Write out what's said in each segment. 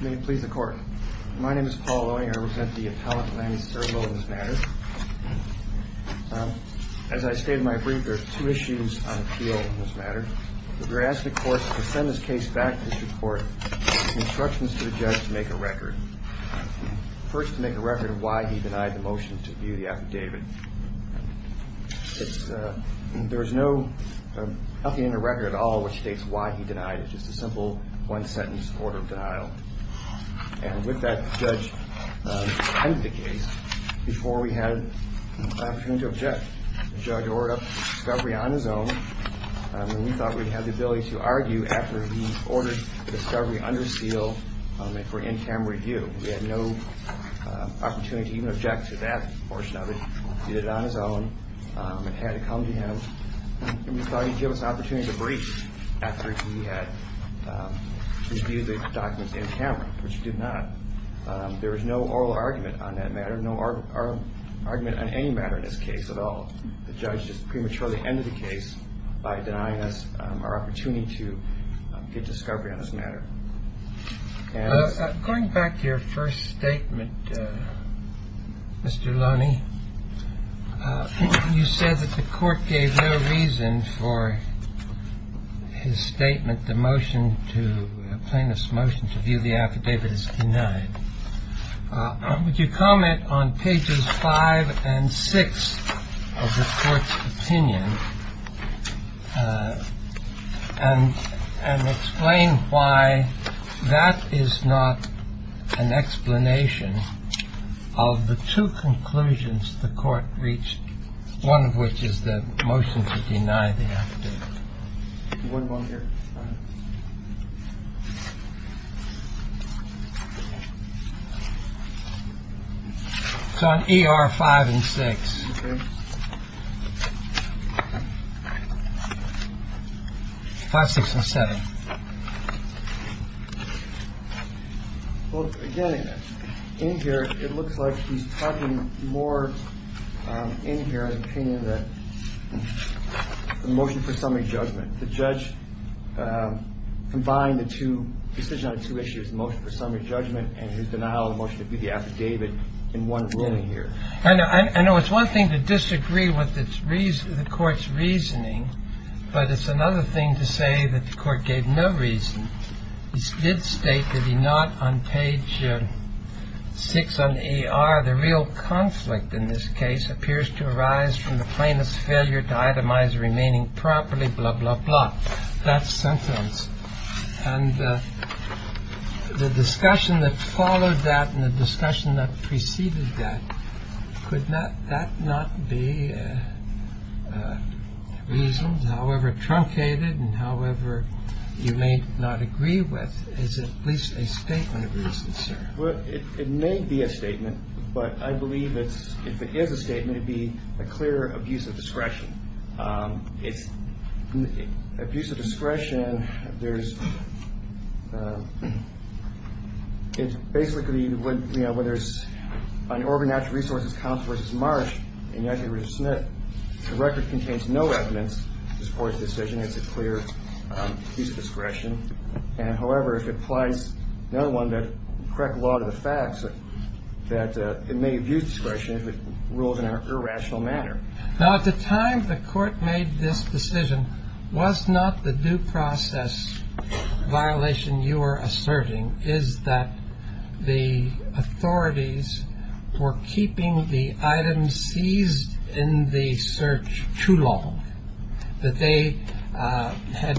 May it please the court. My name is Paul Loewinger. I represent the appellate, Lanny Swerdlow, in this matter. As I stated in my brief, there are two issues on appeal in this matter. We're asking the court to send this case back to the court with instructions to the judge to make a record. First, to make a record of why he denied the motion to view the affidavit. There is nothing in the record at all which states why he denied it. It's just a simple one-sentence order of denial. And with that, the judge handed the case before we had an opportunity to object. The judge ordered up the discovery on his own. We thought we'd have the ability to argue after he ordered the discovery under seal for in-cam review. We had no opportunity to even object to that portion of it. He did it on his own and had it come to him. And we thought he'd give us an opportunity to breach after he had reviewed the documents in camera, which he did not. There was no oral argument on that matter, no oral argument on any matter in this case at all. The judge just prematurely ended the case by denying us our opportunity to get discovery on this matter. Going back to your first statement, Mr. Loney, you said that the court gave no reason for his statement, the motion to plaintiff's motion to view the affidavit as denied. Would you comment on pages five and six of the court's opinion and explain why that is not an explanation of the two conclusions the court reached, one of which is the motion to deny the affidavit? One here. It's on E.R. five and six. Five, six or seven. Well, again, in here, it looks like he's talking more in here. The motion for summary judgment, the judge combined the two decisions on two issues, the motion for summary judgment and his denial of the motion to view the affidavit in one ruling here. I know it's one thing to disagree with the court's reasoning, but it's another thing to say that the court gave no reason. He did state that he not on page six on E.R. The real conflict in this case appears to arise from the plaintiff's failure to itemize remaining properly. Blah, blah, blah. That's sentence. And the discussion that followed that and the discussion that preceded that could not that not be reasons. However, truncated and however you may not agree with is at least a statement of reasons. Well, it may be a statement, but I believe that if it is a statement, it'd be a clear abuse of discretion. It's abuse of discretion. There's it's basically when you know when there's an organized resource, the record contains no evidence to support the decision. It's a clear use of discretion. And however, if it applies, no one that correct a lot of the facts that it may abuse discretion rules in an irrational manner. Now, at the time the court made this decision was not the due process violation. You are asserting is that the authorities were keeping the items seized in the search too long that they had.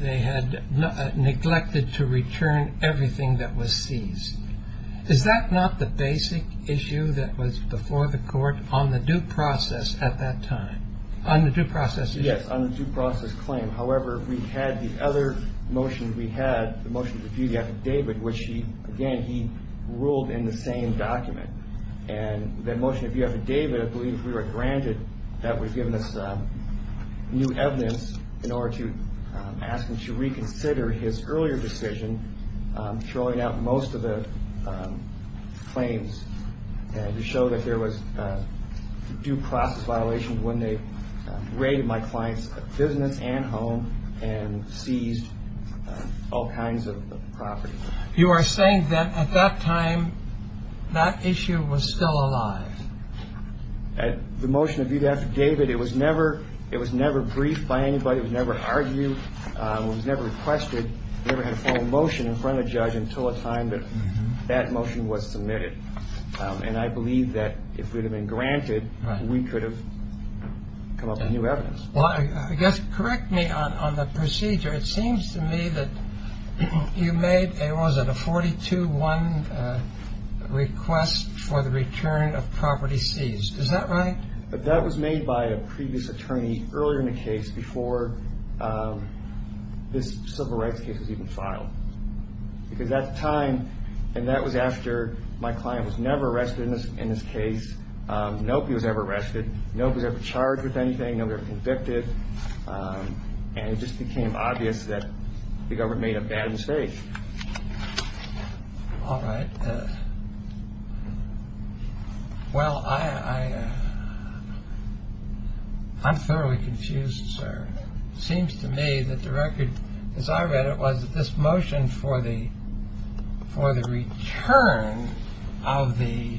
They had neglected to return everything that was seized. Is that not the basic issue that was before the court on the due process at that time on the due process? Claim, however, we had the other motion. We had the motion to view the affidavit, which he again, he ruled in the same document. And the motion of the affidavit, I believe we were granted that was given us new evidence in order to ask him to reconsider his earlier decision. Showing out most of the claims to show that there was due process violation when they raided my client's business and home and seized all kinds of property. You are saying that at that time that issue was still alive at the motion of the affidavit. It was never it was never briefed by anybody. It was never requested motion in front of judge until a time that that motion was submitted. And I believe that if it had been granted, we could have come up with new evidence. Well, I guess correct me on the procedure. It seems to me that you made a wasn't a 42 one request for the return of property seized. Is that right? But that was made by a previous attorney earlier in the case before this civil rights case was even filed. Because that time and that was after my client was never arrested in this case. No, he was ever arrested. No, he was ever charged with anything. No, they're convicted. And it just became obvious that the government made a bad mistake. All right. Well, I. I'm thoroughly confused, sir. Seems to me that the record, as I read it, was this motion for the for the return of the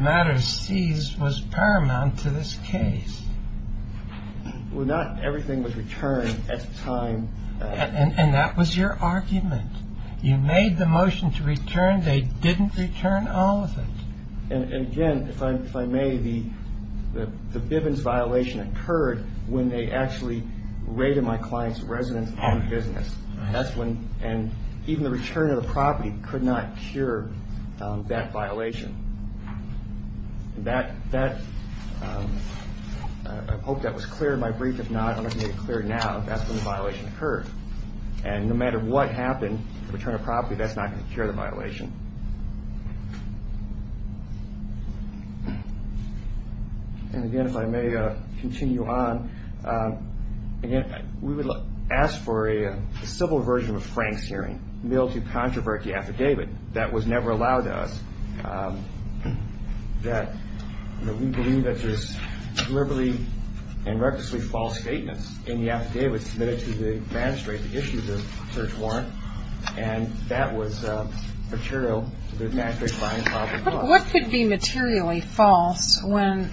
matter. Seize was paramount to this case. Well, not everything was returned at the time. And that was your argument. You made the motion to return. They didn't return all of it. And again, if I may, the the Bivens violation occurred when they actually raided my client's residence and business. That's when and even the return of the property could not cure that violation. That that I hope that was clear. My brief, if not clear now, that's when the violation occurred. And no matter what happened, the return of property, that's not going to cure the violation. And again, if I may continue on again, we will ask for a civil version of Frank's hearing. Mildew controversy affidavit that was never allowed us that we believe that there's deliberately and recklessly false statements in the affidavits submitted to the magistrate. The issues of search warrant. And that was material to the mastery. What could be materially false when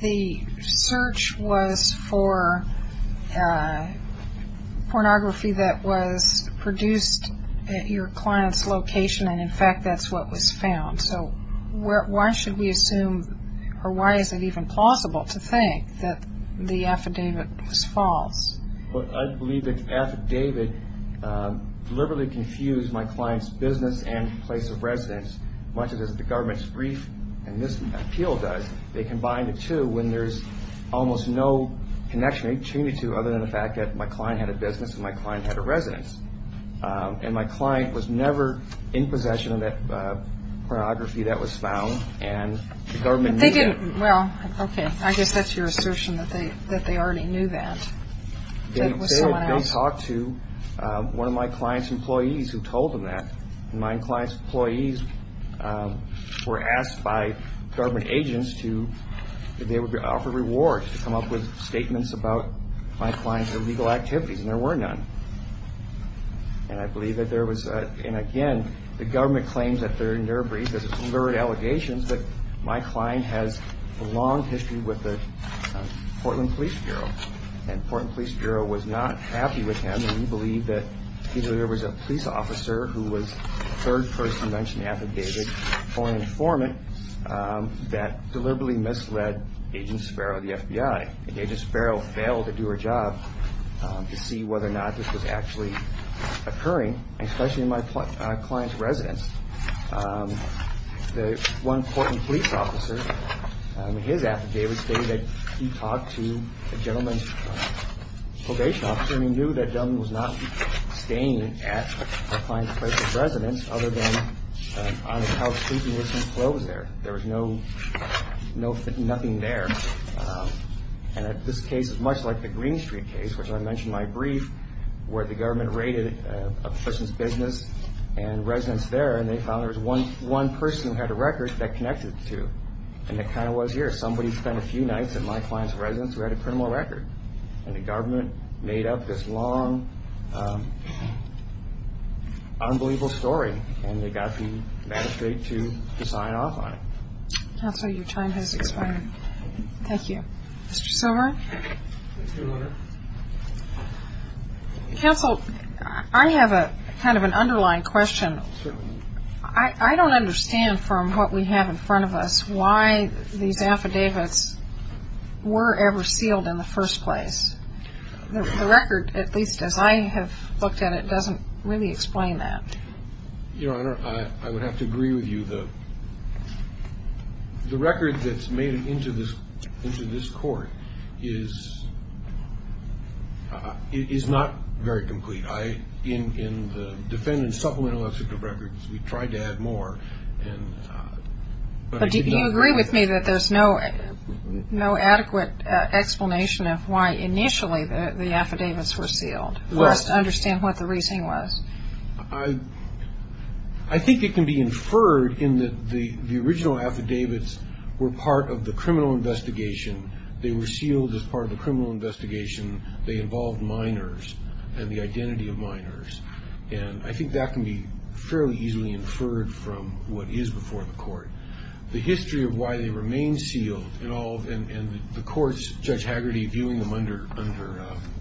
the search was for pornography that was produced at your client's location? And in fact, that's what was found. So why should we assume or why is it even plausible to think that the affidavit was false? Well, I believe that affidavit deliberately confused my client's business and place of residence. Much of the government's brief and this appeal does. They combined the two when there's almost no connection between the two other than the fact that my client had a business and my client had a residence. And my client was never in possession of that pornography that was found. And they didn't. Well, OK, I guess that's your assertion that they that they already knew that they don't talk to one of my client's employees who told them that my client's employees were asked by government agents to offer rewards to come up with statements about my client's illegal activities. And there were none. And I believe that there was. And again, the government claims that they're in their brief. There's a third allegations that my client has a long history with the Portland Police Bureau and Portland Police Bureau was not happy with him. And we believe that there was a police officer who was third person mentioned affidavit for an informant that deliberately misled agents. Sparrow, the FBI agent, Sparrow failed to do her job to see whether or not this was actually occurring, especially in my client's residence. The one Portland police officer in his affidavit stated that he talked to a gentleman's probation officer and he knew that was not staying at a client's residence other than. There was no no nothing there. And this case is much like the Green Street case, which I mentioned my brief where the government raided a person's business and residence there. And they found there was one one person who had a record that connected to. And it kind of was here. Somebody spent a few nights at my client's residence who had a criminal record and the government made up this long, unbelievable story. And they got the magistrate to sign off on it. So your time has expired. Thank you, Mr. Silver. Counsel, I have a kind of an underlying question. I don't understand from what we have in front of us why these affidavits were ever sealed in the first place. The record, at least as I have looked at it, doesn't really explain that. Your Honor, I would have to agree with you, though. The record that's made it into this into this court is. It is not very complete. I in the defendant's supplemental records, we tried to add more. But do you agree with me that there's no no adequate explanation of why initially the affidavits were sealed? I think it can be inferred in that the original affidavits were part of the criminal investigation. They were sealed as part of the criminal investigation. They involved minors and the identity of minors. And I think that can be fairly easily inferred from what is before the court. The history of why they remain sealed and the courts, Judge Haggerty, viewing them under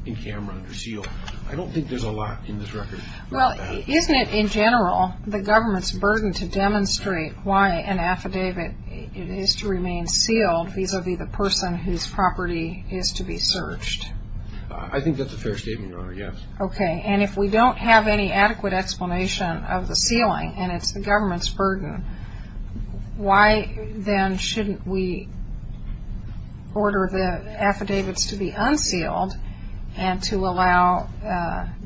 in camera, under seal. I don't think there's a lot in this record. Well, isn't it in general the government's burden to demonstrate why an affidavit is to remain sealed vis-a-vis the person whose property is to be searched? I think that's a fair statement, Your Honor. Yes. Okay. And if we don't have any adequate explanation of the sealing and it's the government's burden, why then shouldn't we order the affidavits to be unsealed and to allow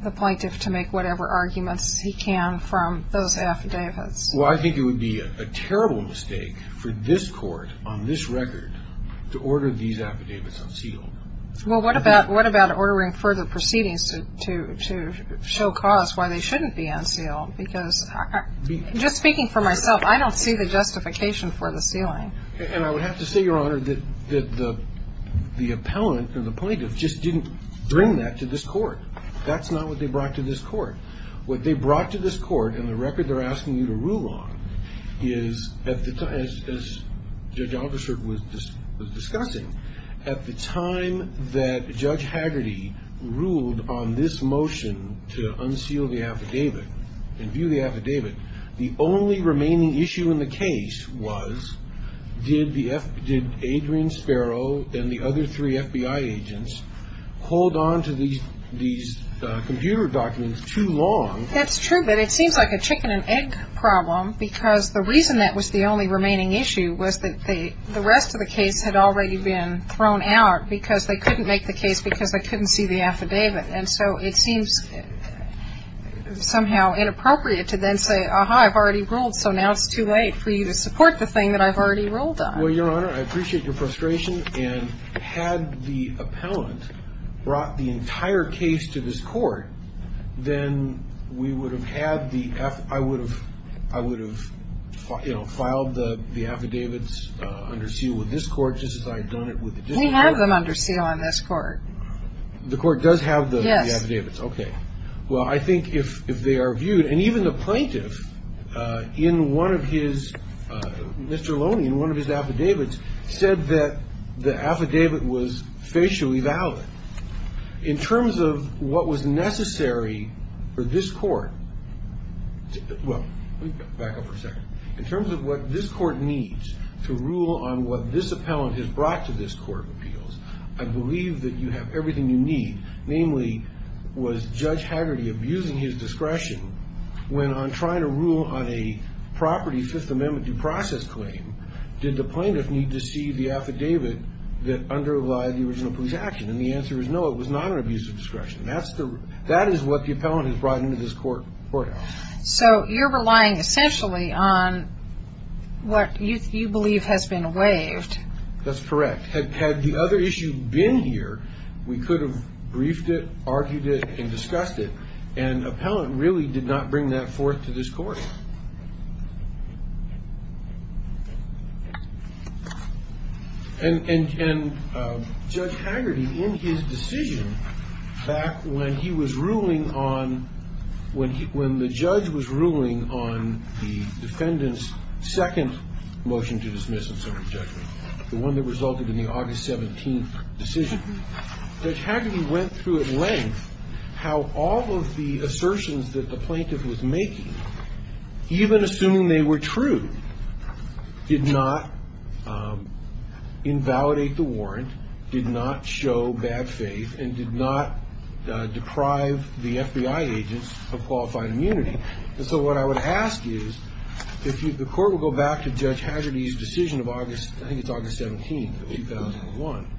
the plaintiff to make whatever arguments he can from those affidavits? Well, I think it would be a terrible mistake for this court on this record to order these affidavits unsealed. Well, what about ordering further proceedings to show cause why they shouldn't be unsealed? Because just speaking for myself, I don't see the justification for the sealing. And I would have to say, Your Honor, that the appellant or the plaintiff just didn't bring that to this court. That's not what they brought to this court. What they brought to this court and the record they're asking you to rule on is, as Judge Aldershot was discussing, at the time that Judge Haggerty ruled on this motion to unseal the affidavit and view the affidavit, the only remaining issue in the case was, did Adrian Sparrow and the other three FBI agents hold on to these computer documents too long? That's true, but it seems like a chicken and egg problem because the reason that was the only remaining issue was that the rest of the case had already been thrown out because they couldn't make the case because they couldn't see the affidavit. And so it seems somehow inappropriate to then say, aha, I've already ruled, so now it's too late for you to support the thing that I've already ruled on. Well, Your Honor, I appreciate your frustration. And had the appellant brought the entire case to this court, then we would have had the – I would have – I would have, you know, filed the affidavits under seal with this court just as I had done it with the district court. We have them under seal on this court. The court does have the affidavits? Yes. Okay. Well, I think if they are viewed – and even the plaintiff in one of his – Mr. Loney, in one of his affidavits, said that the affidavit was facially valid. In terms of what was necessary for this court – well, let me back up for a second. In terms of what this court needs to rule on what this appellant has brought to this court of appeals, I believe that you have everything you need. Namely, was Judge Haggerty abusing his discretion when on trying to rule on a property Fifth Amendment due process claim, did the plaintiff need to see the affidavit that underlie the original police action? And the answer is no, it was not an abuse of discretion. That is what the appellant has brought into this court. So you're relying essentially on what you believe has been waived. That's correct. Had the other issue been here, we could have briefed it, argued it, and discussed it. And the appellant really did not bring that forth to this court. And Judge Haggerty, in his decision back when he was ruling on – when the judge was ruling on the defendant's second motion to dismiss The one that resulted in the August 17th decision. Judge Haggerty went through at length how all of the assertions that the plaintiff was making, even assuming they were true, did not invalidate the warrant, did not show bad faith, and did not deprive the FBI agents of qualified immunity. And so what I would ask is, if you – the court will go back to Judge Haggerty's decision of August – I think it's August 17th of 2001.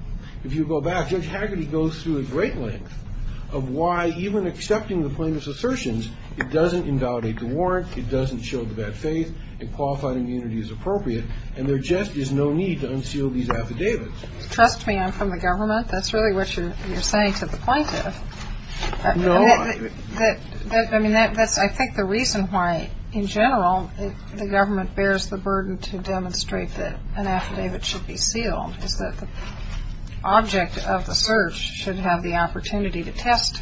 If you go back, Judge Haggerty goes through at great length of why even accepting the plaintiff's assertions, it doesn't invalidate the warrant, it doesn't show the bad faith, and qualified immunity is appropriate, and there just is no need to unseal these affidavits. Trust me, I'm from the government. That's really what you're saying to the plaintiff. No, I – I mean, that's – I think the reason why, in general, the government bears the burden to demonstrate that an affidavit should be sealed is that the object of the search should have the opportunity to test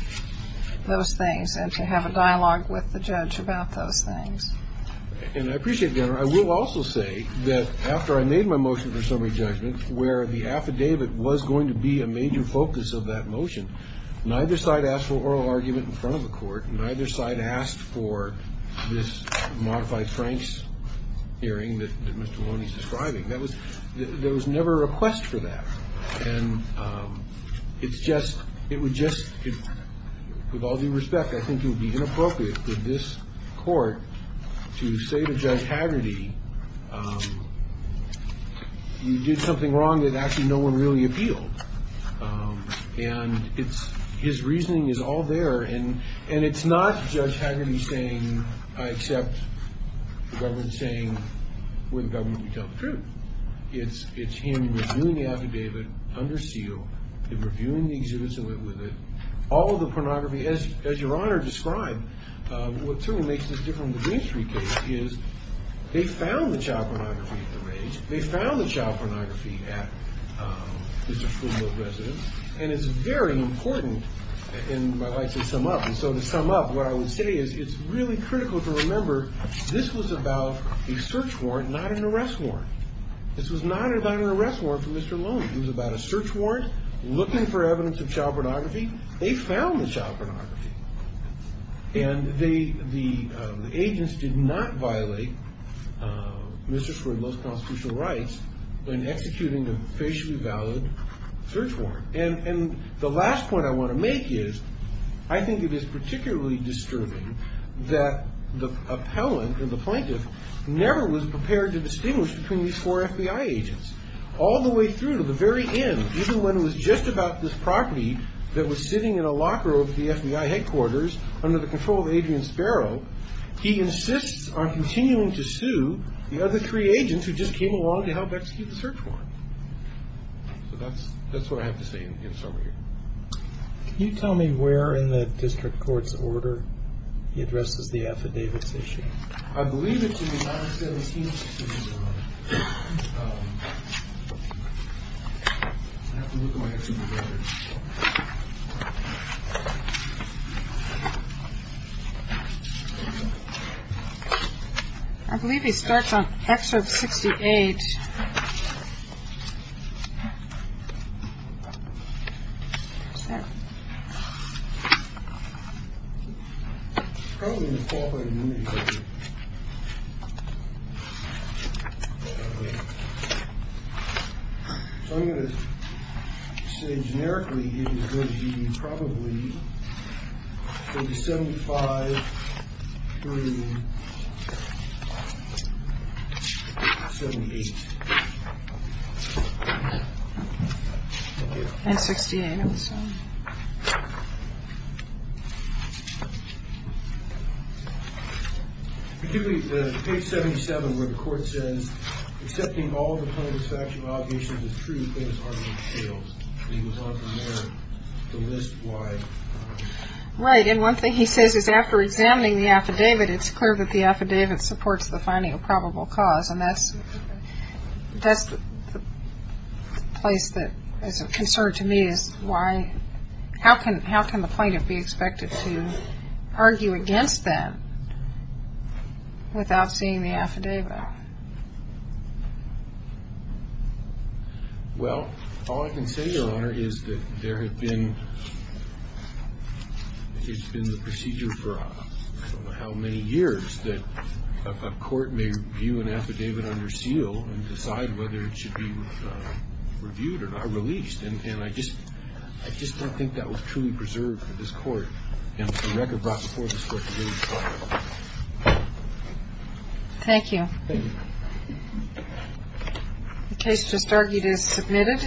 those things and to have a dialogue with the judge about those things. And I appreciate that. I will also say that after I made my motion for summary judgment, where the affidavit was going to be a major focus of that motion, neither side asked for oral argument in front of the court, neither side asked for this modified Franks hearing that Mr. Maloney is describing. That was – there was never a request for that. And it's just – it would just – with all due respect, I think it would be inappropriate for this court to say to Judge Haggerty, you did something wrong that actually no one really appealed. And it's – his reasoning is all there. And it's not Judge Haggerty saying, I accept the government saying, with the government we tell the truth. It's him reviewing the affidavit under seal and reviewing the exhibits that went with it. All of the pornography, as Your Honor described, what certainly makes this different from the Green Street case is they found the child pornography at the range. They found the child pornography at Mr. Fullilove's residence. And it's very important – and I'd like to sum up. And so to sum up, what I would say is it's really critical to remember this was about a search warrant, not an arrest warrant. This was not about an arrest warrant for Mr. Maloney. It was about a search warrant looking for evidence of child pornography. They found the child pornography. And they – the agents did not violate Mr. Fullilove's constitutional rights when executing a facially valid search warrant. And the last point I want to make is I think it is particularly disturbing that the appellant or the plaintiff never was prepared to distinguish between these four FBI agents, all the way through to the very end, even when it was just about this property that was sitting in a locker over at the FBI headquarters under the control of Adrian Sparrow. He insists on continuing to sue the other three agents who just came along to help execute the search warrant. So that's what I have to say in summary. Can you tell me where in the district court's order he addresses the affidavits issue? I believe it's in the 917. I believe he starts on excerpt 68. I'm going to say generically, it would be probably 75 through 78. And 68, I'm assuming. Particularly page 77 where the court says, accepting all of the plaintiff's factual allegations is true, but his argument fails. He would want the mayor to list why. Right. And one thing he says is after examining the affidavit, it's clear that the affidavit supports the finding of probable cause. And that's the place that is of concern to me, is how can the plaintiff be expected to argue against that without seeing the affidavit? Well, all I can say, Your Honor, is that there has been the procedure for I don't know how many years that a court may view an affidavit under seal and decide whether it should be reviewed or released. And I just don't think that was truly preserved for this court. And the record brought before this court was really filed. Thank you. Thank you. The case just argued is submitted.